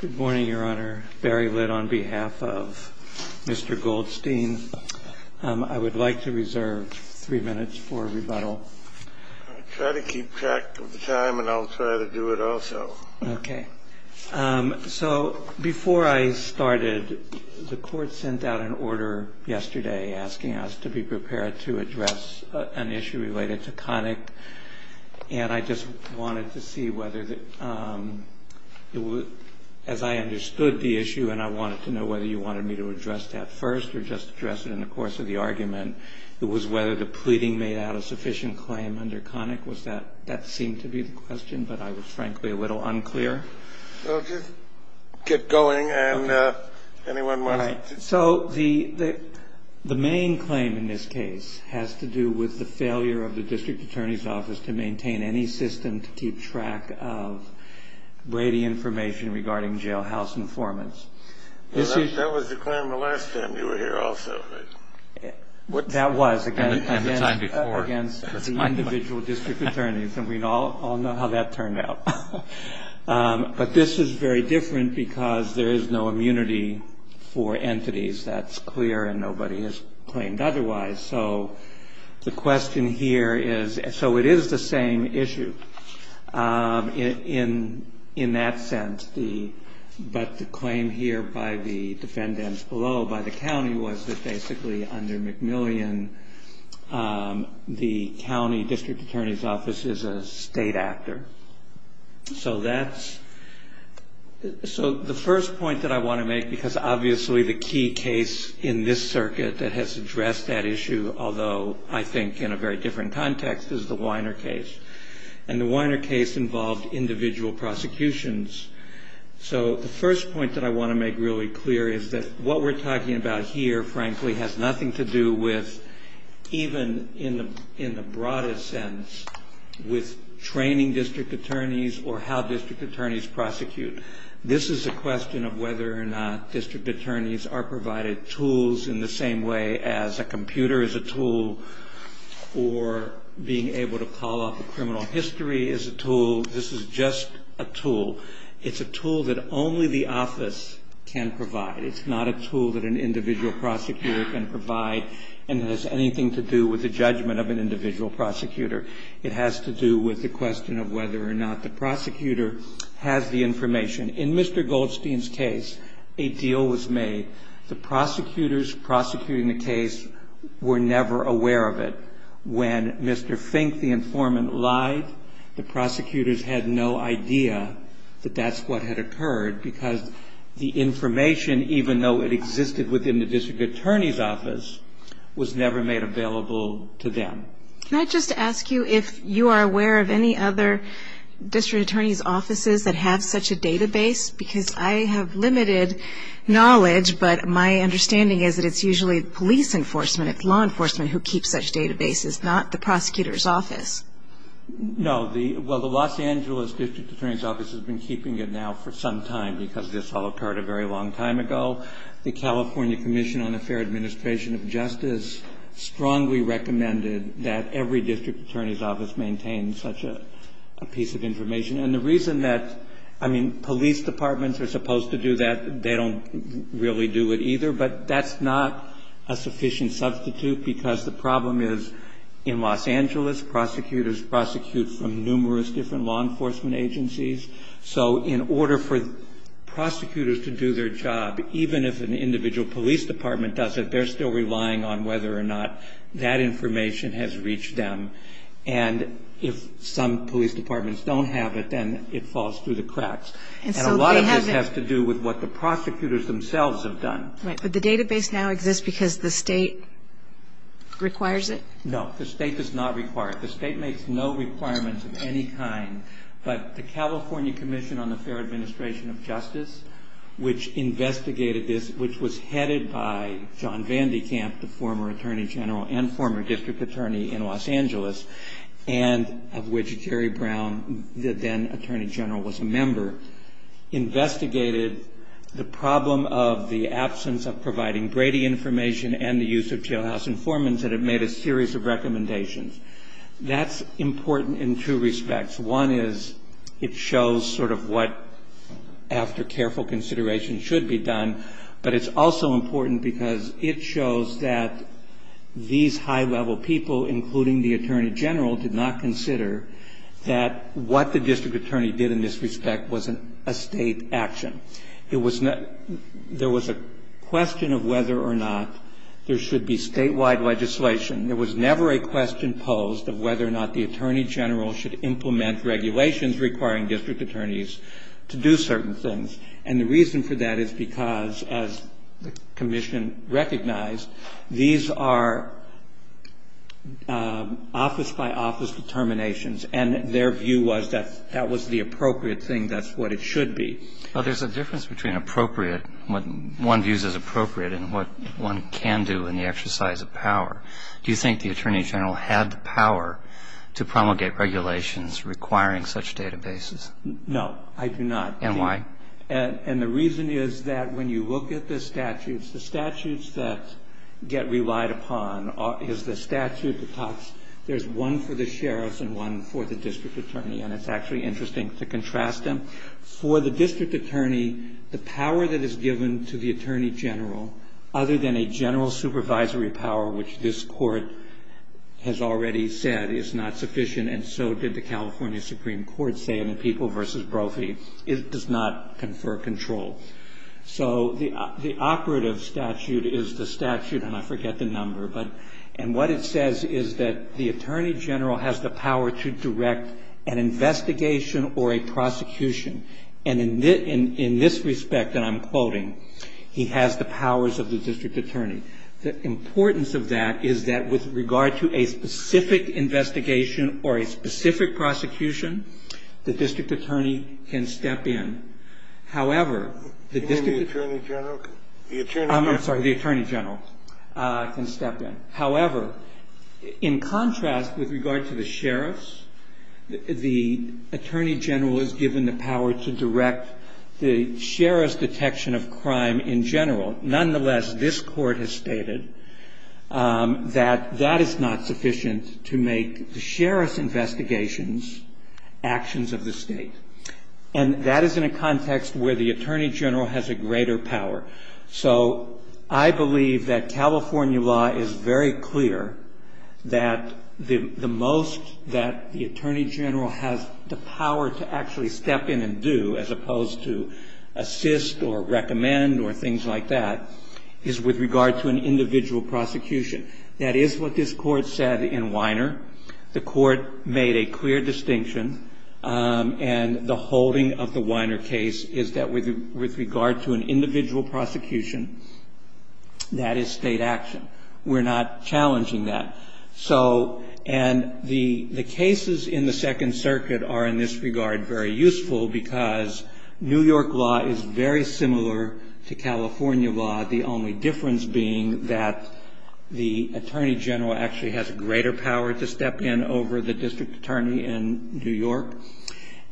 Good morning, Your Honor. Barry Litt on behalf of Mr. Goldstein. I would like to reserve three minutes for rebuttal. Try to keep track of the time, and I'll try to do it also. Okay. So before I started, the Court sent out an order yesterday asking us to be prepared to address an issue related to Connick. And I just wanted to see whether, as I understood the issue, and I wanted to know whether you wanted me to address that first or just address it in the course of the argument, it was whether the pleading made out a sufficient claim under Connick? That seemed to be the question, but I was frankly a little unclear. Well, just get going, and anyone want to? Right. So the main claim in this case has to do with the failure of the District Attorney's Office to maintain any system to keep track of Brady information regarding jailhouse informants. That was the claim the last time you were here also. That was, again, against the individual district attorneys, and we all know how that turned out. But this is very different because there is no immunity for entities. That's clear, and nobody has claimed otherwise. So the question here is so it is the same issue in that sense. But the claim here by the defendants below, by the county, was that basically under McMillian, the county district attorney's office is a state actor. So the first point that I want to make, because obviously the key case in this circuit that has addressed that issue, although I think in a very different context, is the Weiner case. And the Weiner case involved individual prosecutions. So the first point that I want to make really clear is that what we're talking about here, frankly, has nothing to do with even in the broadest sense with training district attorneys or how district attorneys prosecute. This is a question of whether or not district attorneys are provided tools in the same way as a computer is a tool or being able to call up a criminal history is a tool. This is just a tool. It's a tool that only the office can provide. It's not a tool that an individual prosecutor can provide and has anything to do with the judgment of an individual prosecutor. It has to do with the question of whether or not the prosecutor has the information. In Mr. Goldstein's case, a deal was made. The prosecutors prosecuting the case were never aware of it. When Mr. Fink, the informant, lied, the prosecutors had no idea that that's what had occurred, because the information, even though it existed within the district attorney's office, was never made available to them. Can I just ask you if you are aware of any other district attorney's offices that have such a database? Because I have limited knowledge, but my understanding is that it's usually police enforcement, it's law enforcement who keeps such databases, not the prosecutor's office. No. Well, the Los Angeles district attorney's office has been keeping it now for some time because this all occurred a very long time ago. The California Commission on the Fair Administration of Justice strongly recommended that every district attorney's office maintain such a piece of information. And the reason that, I mean, police departments are supposed to do that. They don't really do it either. But that's not a sufficient substitute because the problem is in Los Angeles, prosecutors prosecute from numerous different law enforcement agencies. So in order for prosecutors to do their job, even if an individual police department does it, they're still relying on whether or not that information has reached them. And if some police departments don't have it, then it falls through the cracks. And a lot of this has to do with what the prosecutors themselves have done. Right. But the database now exists because the state requires it? No. The state does not require it. The state makes no requirements of any kind. But the California Commission on the Fair Administration of Justice, which investigated this, which was headed by John Vandekamp, the former attorney general and former district attorney in Los Angeles, and of which Jerry Brown, the then attorney general, was a member, investigated the problem of the absence of providing Brady information and the use of jailhouse informants, and it made a series of recommendations. That's important in two respects. One is it shows sort of what, after careful consideration, should be done. But it's also important because it shows that these high-level people, including the attorney general, did not consider that what the district attorney did in this respect was a state action. There was a question of whether or not there should be statewide legislation. There was never a question posed of whether or not the attorney general should implement regulations requiring district attorneys to do certain things. And the reason for that is because, as the commission recognized, these are office-by-office determinations, and their view was that that was the appropriate thing, that's what it should be. But there's a difference between appropriate, what one views as appropriate, and what one can do in the exercise of power. Do you think the attorney general had the power to promulgate regulations requiring such databases? No, I do not. And why? And the reason is that when you look at the statutes, the statutes that get relied upon is the statute that talks, there's one for the sheriff's and one for the district attorney. And it's actually interesting to contrast them. For the district attorney, the power that is given to the attorney general, other than a general supervisory power, which this court has already said is not sufficient, and so did the California Supreme Court say in the People v. Brophy, it does not confer control. So the operative statute is the statute, and I forget the number, and what it says is that the attorney general has the power to direct an investigation or a prosecution. And in this respect, and I'm quoting, he has the powers of the district attorney. The importance of that is that with regard to a specific investigation or a specific prosecution, the district attorney can step in. However, the district attorney general can step in. The attorney general is given the power to direct the sheriff's detection of crime in general. Nonetheless, this court has stated that that is not sufficient to make the sheriff's investigations actions of the state. And that is in a context where the attorney general has a greater power. So I believe that California law is very clear that the most that the attorney general has the power to actually step in and do, as opposed to assist or recommend or things like that, is with regard to an individual prosecution. That is what this court said in Weiner. The court made a clear distinction, and the holding of the Weiner case is that with regard to an individual prosecution, that is State action. We're not challenging that. And the cases in the Second Circuit are in this regard very useful because New York law is very similar to California law, the only difference being that the attorney general actually has a greater power to step in over the district attorney in New York.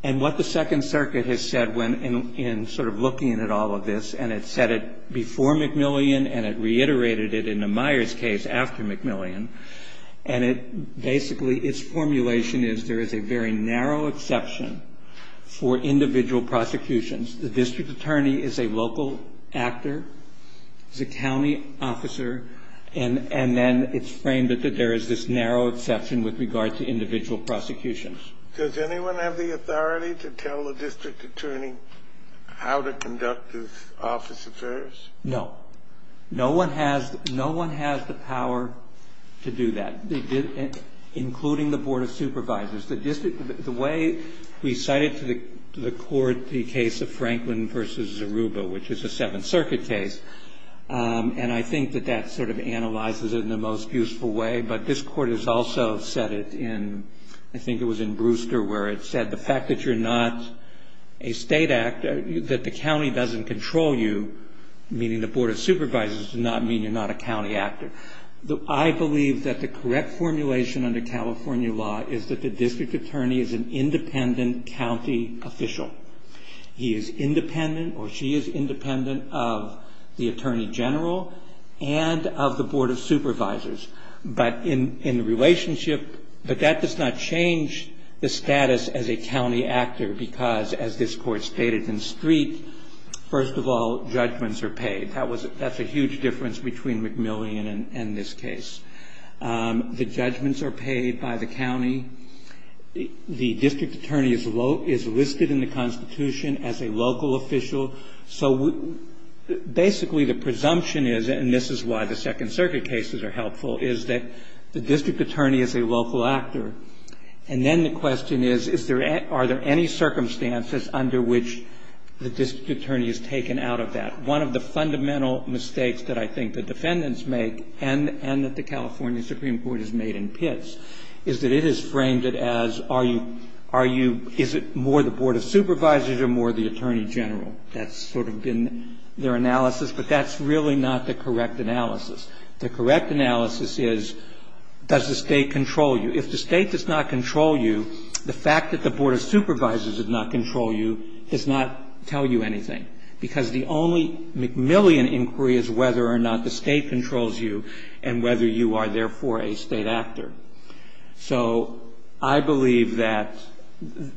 And what the Second Circuit has said in sort of looking at all of this, and it said it before McMillian and it reiterated it in the Myers case after McMillian, and it basically, its formulation is there is a very narrow exception for individual prosecutions. The district attorney is a local actor, is a county officer, and then it's framed that there is this narrow exception with regard to individual prosecutions. Does anyone have the authority to tell a district attorney how to conduct this office affairs? No. No one has the power to do that, including the Board of Supervisors. The way we cited to the court the case of Franklin v. Zaruba, which is a Seventh Circuit case, and I think that that sort of analyzes it in the most useful way, but this court has also said it in, I think it was in Brewster, where it said the fact that you're not a State actor, that the county doesn't control you, meaning the Board of Supervisors does not mean you're not a county actor. I believe that the correct formulation under California law is that the district attorney is an independent county official. He is independent or she is independent of the Attorney General and of the Board of Supervisors, but in the relationship, but that does not change the status as a county actor because, as this Court stated in Street, first of all, judgments are paid. That's a huge difference between McMillian and this case. The judgments are paid by the county. The district attorney is listed in the Constitution as a local official. So basically the presumption is, and this is why the Second Circuit cases are helpful, is that the district attorney is a local actor. And then the question is, are there any circumstances under which the district attorney is taken out of that? One of the fundamental mistakes that I think the defendants make, and that the California Supreme Court has made in Pitts, is that it has framed it as are you, is it more the Board of Supervisors or more the Attorney General? That's sort of been their analysis, but that's really not the correct analysis. The correct analysis is, does the State control you? If the State does not control you, the fact that the Board of Supervisors does not control you does not tell you anything because the only McMillian inquiry is whether or not the State controls you and whether you are therefore a state actor. So I believe that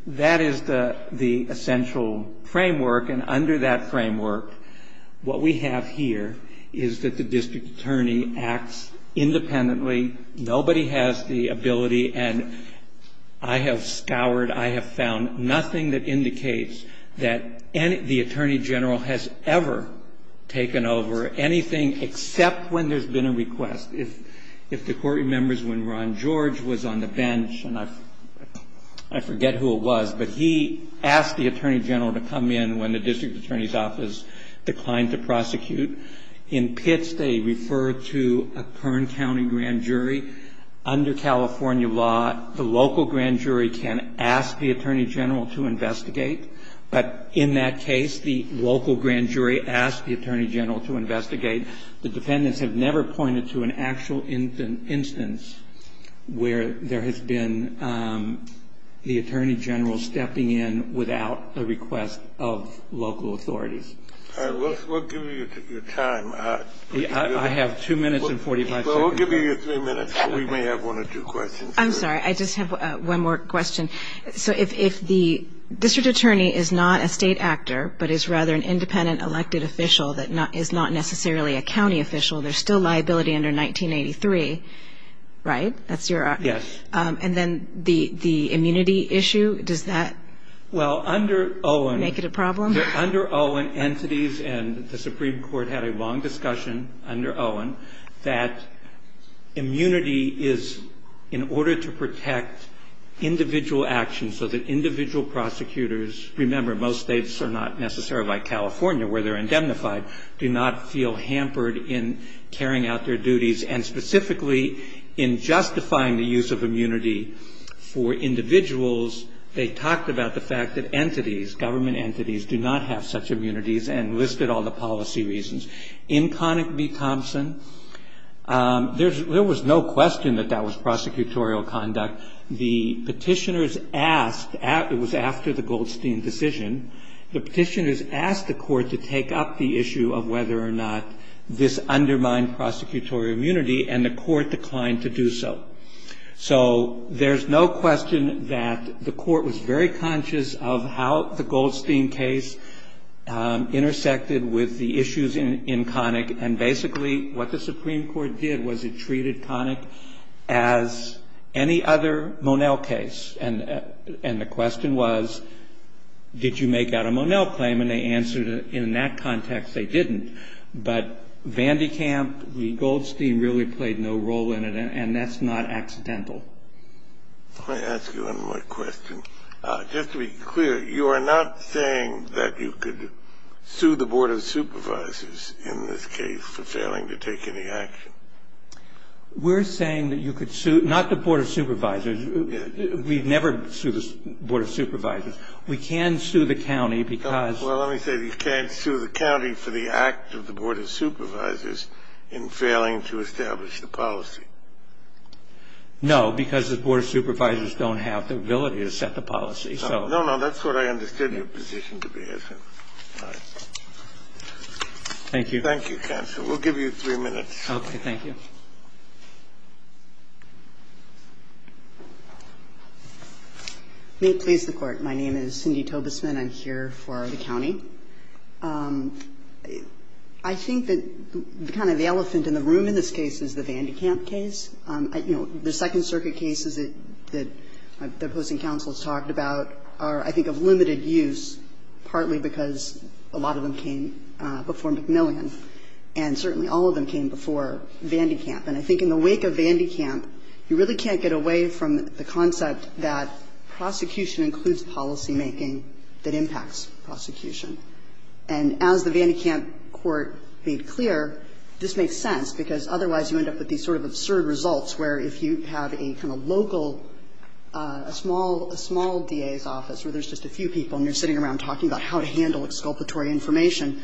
that is the essential framework, and under that framework what we have here is that the district attorney acts independently. Nobody has the ability, and I have scoured, I have found nothing that indicates that the Attorney General has ever taken over anything except when there's been a request. If the Court remembers when Ron George was on the bench, and I forget who it was, but he asked the Attorney General to come in when the district attorney's office declined to prosecute. In Pitts, they refer to a Kern County grand jury. Under California law, the local grand jury can ask the Attorney General to investigate, but in that case, the local grand jury asked the Attorney General to investigate. The defendants have never pointed to an actual instance where there has been the Attorney General stepping in without a request of local authorities. All right, we'll give you your time. I have two minutes and 45 seconds. Well, we'll give you your three minutes, but we may have one or two questions. I'm sorry, I just have one more question. So if the district attorney is not a state actor, but is rather an independent elected official that is not necessarily a county official, there's still liability under 1983, right? Yes. And then the immunity issue, does that make it a problem? Under Owen entities, and the Supreme Court had a long discussion under Owen, that immunity is in order to protect individual actions so that individual prosecutors ñ remember, most states are not necessarily like California where they're indemnified ñ do not feel hampered in carrying out their duties. And specifically in justifying the use of immunity for individuals, they talked about the fact that entities, government entities, do not have such immunities and listed all the policy reasons. In Connick v. Thompson, there was no question that that was prosecutorial conduct. The Petitioners asked ñ it was after the Goldstein decision. The Petitioners asked the court to take up the issue of whether or not this undermined prosecutorial immunity, and the court declined to do so. So there's no question that the court was very conscious of how the Goldstein case intersected with the issues in Connick, and basically what the Supreme Court did was it treated Connick as any other Monell case. And the question was, did you make out a Monell claim? And they answered, in that context, they didn't. But Vandekamp v. Goldstein really played no role in it, and that's not accidental. Let me ask you one more question. Just to be clear, you are not saying that you could sue the Board of Supervisors in this case for failing to take any action? We're saying that you could sue ñ not the Board of Supervisors. We've never sued the Board of Supervisors. We can sue the county because ñ Well, let me say that you can't sue the county for the act of the Board of Supervisors in failing to establish the policy. No, because the Board of Supervisors don't have the ability to set the policy. No, no. That's what I understood your position to be as in. All right. Thank you. Thank you, counsel. We'll give you three minutes. Okay. Thank you. May it please the Court. My name is Cindy Tobesman. I'm here for the county. I think that kind of the elephant in the room in this case is the Van de Kamp case. You know, the Second Circuit cases that the opposing counsel has talked about are, I think, of limited use, partly because a lot of them came before McMillian, and certainly all of them came before Van de Kamp. And I think in the wake of Van de Kamp, you really can't get away from the concept that prosecution includes policymaking that impacts prosecution. And as the Van de Kamp court made clear, this makes sense, because otherwise you end up with these sort of absurd results where if you have a kind of local, a small DA's office where there's just a few people and you're sitting around talking about how to handle exculpatory information,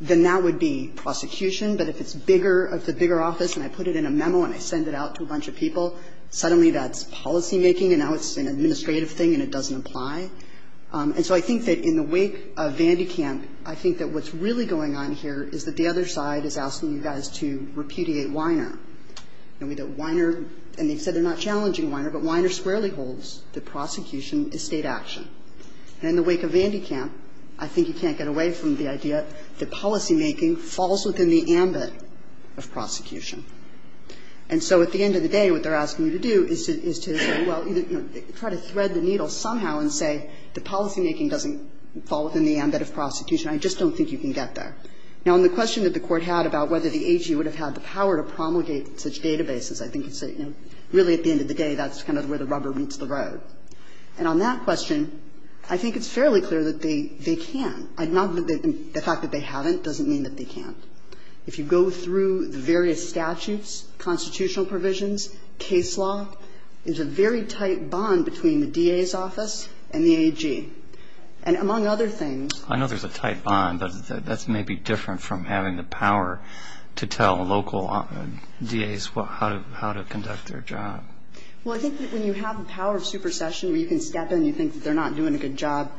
then that would be prosecution. But if it's bigger, if it's a bigger office and I put it in a memo and I send it out to a bunch of people, suddenly that's policymaking and now it's an administrative thing and it doesn't apply. And so I think that in the wake of Van de Kamp, I think that what's really going on here is that the other side is asking you guys to repudiate Weiner. And Weiner, and they've said they're not challenging Weiner, but Weiner squarely holds that prosecution is State action. And in the wake of Van de Kamp, I think you can't get away from the idea that policymaking falls within the ambit of prosecution. And so at the end of the day, what they're asking you to do is to say, well, you know, try to thread the needle somehow and say that policymaking doesn't fall within the ambit of prosecution. I just don't think you can get there. Now, on the question that the Court had about whether the AG would have had the power to promulgate such databases, I think it's a, you know, really at the end of the day that's kind of where the rubber meets the road. And on that question, I think it's fairly clear that they can. The fact that they haven't doesn't mean that they can't. And I think it's fair to say that if you go through the various statutes, constitutional provisions, case law, there's a very tight bond between the DA's office and the AG. And among other things ---- I know there's a tight bond, but that's maybe different from having the power to tell local DAs how to conduct their job. Well, I think that when you have the power of supersession where you can step in and think that they're not doing a good job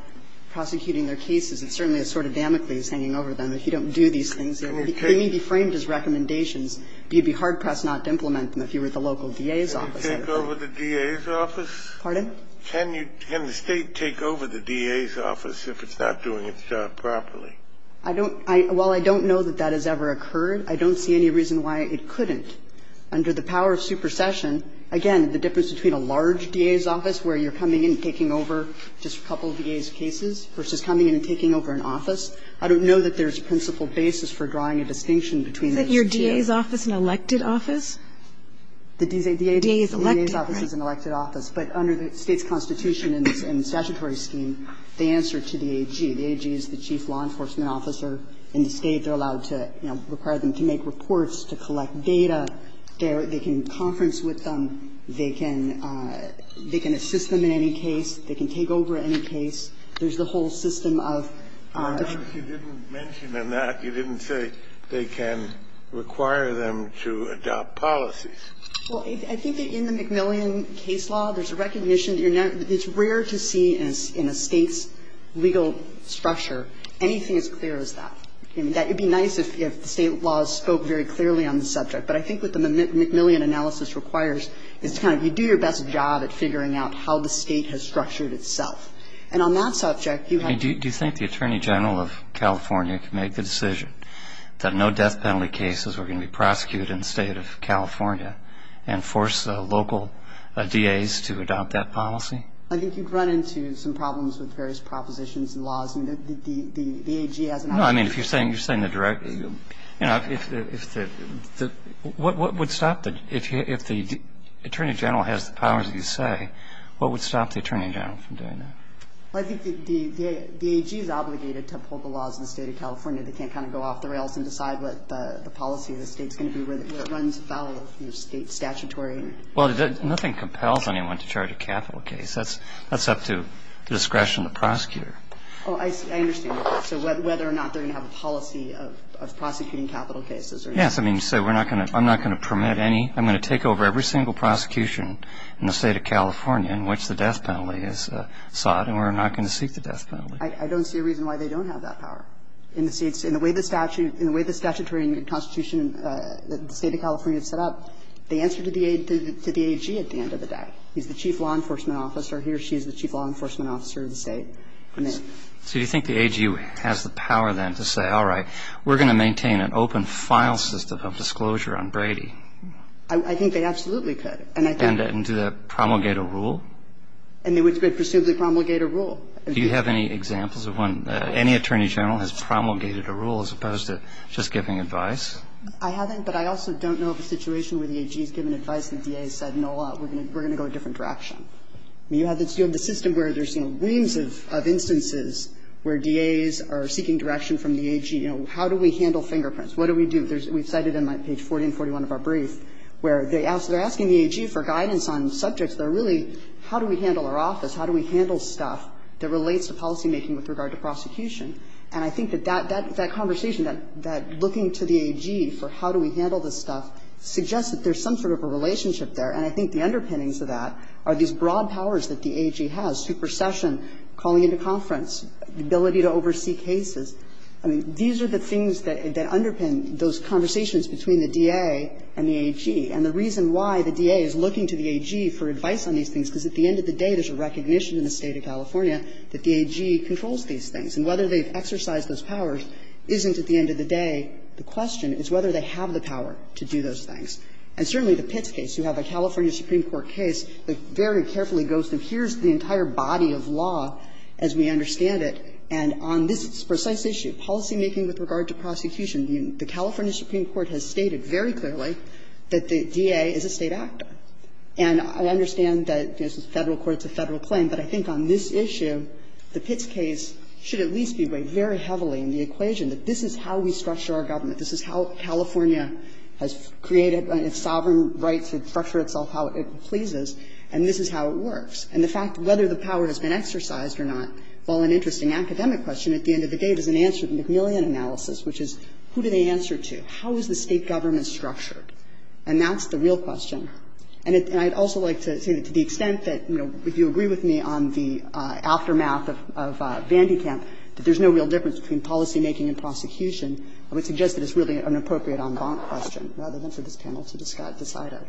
prosecuting their cases, it certainly is sort of Damocles hanging over them if you don't do these things. He may be framed as recommendations, but you'd be hard-pressed not to implement them if you were the local DA's office. Kennedy, can the State take over the DA's office if it's not doing its job properly? Well, I don't know that that has ever occurred. I don't see any reason why it couldn't. Under the power of supersession, again, the difference between a large DA's office where you're coming in and taking over just a couple of DA's cases versus coming in and taking over an office, I don't know that there's a principle basis for drawing a distinction between those two. Isn't your DA's office an elected office? The DA's office is an elected office. But under the State's constitution and statutory scheme, they answer to the AG. The AG is the chief law enforcement officer in the State. They're allowed to, you know, require them to make reports, to collect data. They can conference with them. They can assist them in any case. They can take over any case. There's the whole system of ---- Well, I guess you didn't mention in that, you didn't say they can require them to adopt policies. Well, I think that in the McMillian case law, there's a recognition that you're not ---- it's rare to see in a State's legal structure anything as clear as that. I mean, that would be nice if the State laws spoke very clearly on the subject. But I think what the McMillian analysis requires is kind of you do your best job at figuring out how the State has structured itself. And on that subject, you have to ---- Do you think the Attorney General of California can make the decision that no death penalty cases are going to be prosecuted in the State of California and force local DA's to adopt that policy? I think you'd run into some problems with various propositions and laws. The AG has an ---- No, I mean, if you're saying the direct ---- you know, if the ---- what would stop the ---- if the Attorney General has the powers that you say, what would stop the Attorney General from doing that? Well, I think the AG is obligated to uphold the laws in the State of California. They can't kind of go off the rails and decide what the policy of the State is going to be, where it runs about, you know, State statutory. Well, nothing compels anyone to charge a capital case. That's up to discretion of the prosecutor. Oh, I understand. So whether or not they're going to have a policy of prosecuting capital cases or not. Yes. I mean, so we're not going to ---- I'm not going to permit any ---- I'm going to take over every single prosecution in the State of California in which the death penalty is sought, and we're not going to seek the death penalty. I don't see a reason why they don't have that power. In the State ---- in the way the statute ---- in the way the statutory constitution that the State of California has set up, they answer to the AG at the end of the day. He's the chief law enforcement officer. He or she is the chief law enforcement officer of the State. So you think the AG has the power then to say, all right, we're going to maintain an open file system of disclosure on Brady? I think they absolutely could. And do they promulgate a rule? And they would presumably promulgate a rule. Do you have any examples of when any attorney general has promulgated a rule as opposed to just giving advice? I haven't, but I also don't know of a situation where the AG has given advice and the DA has said, no, we're going to go a different direction. I mean, you have this ---- you have the system where there's, you know, reams of instances where DAs are seeking direction from the AG. You know, how do we handle fingerprints? What do we do? We've cited in my page 40 and 41 of our brief where they're asking the AG for guidance on subjects that are really, how do we handle our office? How do we handle stuff that relates to policymaking with regard to prosecution? And I think that that conversation, that looking to the AG for how do we handle I think the underpinnings of that are these broad powers that the AG has, supersession, calling into conference, the ability to oversee cases. I mean, these are the things that underpin those conversations between the DA and the AG. And the reason why the DA is looking to the AG for advice on these things is because at the end of the day there's a recognition in the State of California that the AG controls these things. And whether they've exercised those powers isn't at the end of the day the question. It's whether they have the power to do those things. And certainly the Pitts case, you have a California Supreme Court case that very carefully goes to here's the entire body of law as we understand it, and on this precise issue, policymaking with regard to prosecution, the California Supreme Court has stated very clearly that the DA is a State actor. And I understand that this is a Federal court, it's a Federal claim, but I think on this issue the Pitts case should at least be weighed very heavily in the equation that this is how we structure our government. This is how California has created its sovereign right to structure itself how it pleases, and this is how it works. And the fact that whether the power has been exercised or not, while an interesting academic question, at the end of the day there's an answer to the McMillian analysis, which is who do they answer to? How is the State government structured? And that's the real question. And I'd also like to say that to the extent that, you know, if you agree with me on the aftermath of Vandekamp, that there's no real difference between policymaking and prosecution, I would suggest that it's really an appropriate en banc question rather than for this panel to decide on.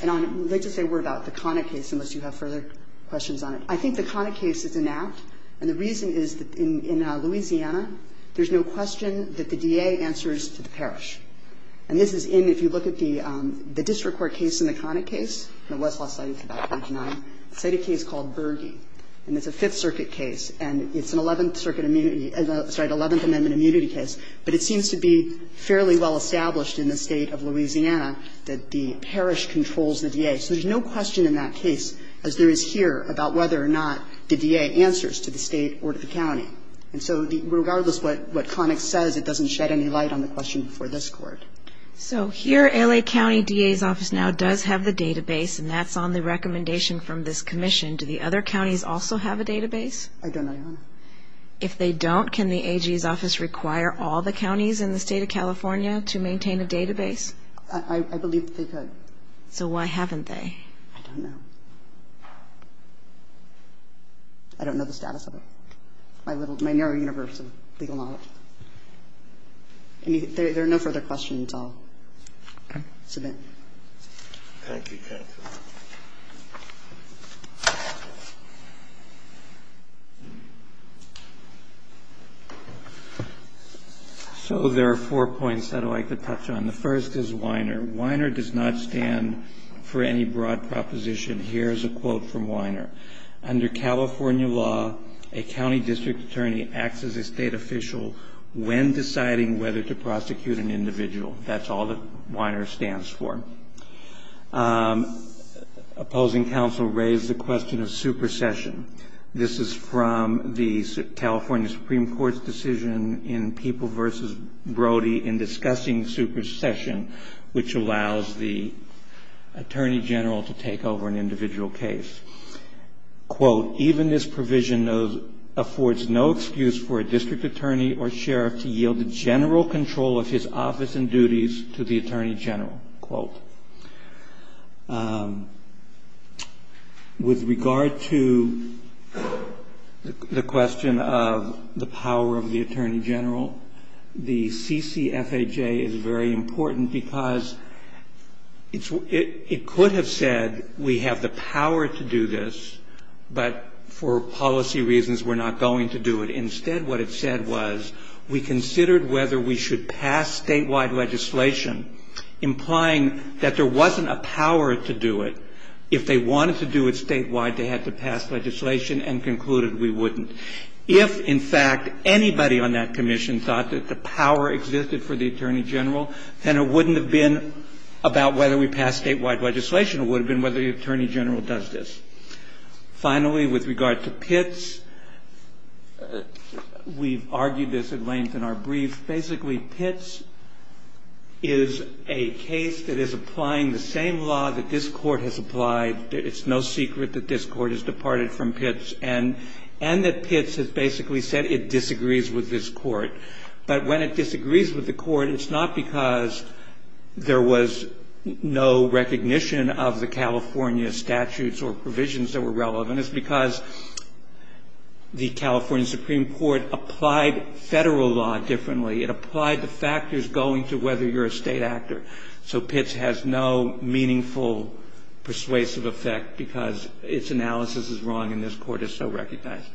And I would like to say a word about the Connick case, unless you have further questions on it. I think the Connick case is inact, and the reason is that in Louisiana, there's no question that the DA answers to the parish. And this is in, if you look at the district court case in the Connick case, the West Law Study, it's about page 9, it's a case called Bergey, and it's a Fifth Circuit case, and it's an 11th Circuit immunity, sorry, 11th Amendment immunity case. But it seems to be fairly well established in the State of Louisiana that the parish controls the DA. So there's no question in that case, as there is here, about whether or not the DA answers to the State or to the county. And so regardless what Connick says, it doesn't shed any light on the question before this Court. So here L.A. County DA's office now does have the database, and that's on the recommendation from this commission. Do the other counties also have a database? I don't know, Your Honor. If they don't, can the AG's office require all the counties in the State of California to maintain a database? I believe that they could. So why haven't they? I don't know. I don't know the status of it. My little ñ my narrow universe of legal knowledge. If there are no further questions, I'll submit. Thank you, counsel. So there are four points I'd like to touch on. The first is Weiner. Weiner does not stand for any broad proposition. Here is a quote from Weiner. Under California law, a county district attorney acts as a State official when deciding whether to prosecute an individual. That's all that Weiner stands for. Opposing counsel raised the question of supersession. This is from the California Supreme Court's decision in People v. Brody in discussing supersession, which allows the attorney general to take over an individual case. Quote, even this provision affords no excuse for a district attorney or sheriff to yield the general control of his office and duties to the attorney general. Quote. With regard to the question of the power of the attorney general, the CCFAJ is very important because it could have said we have the power to do this, but for policy reasons we're not going to do it. Instead, what it said was we considered whether we should pass statewide legislation implying that there wasn't a power to do it. If they wanted to do it statewide, they had to pass legislation and concluded we wouldn't. If, in fact, anybody on that commission thought that the power existed for the attorney general, then it wouldn't have been about whether we pass statewide legislation. It would have been whether the attorney general does this. Finally, with regard to Pitts, we've argued this at length in our brief. Basically, Pitts is a case that is applying the same law that this Court has applied. It's no secret that this Court has departed from Pitts and that Pitts has basically said it disagrees with this Court. But when it disagrees with the Court, it's not because there was no recognition of the California statutes or provisions that were relevant. It's because the California Supreme Court applied Federal law differently. It applied the factors going to whether you're a State actor. So Pitts has no meaningful persuasive effect because its analysis is wrong and this Court has so recognized.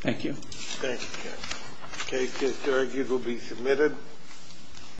Thank you. Thank you, counsel. The case is argued and will be submitted.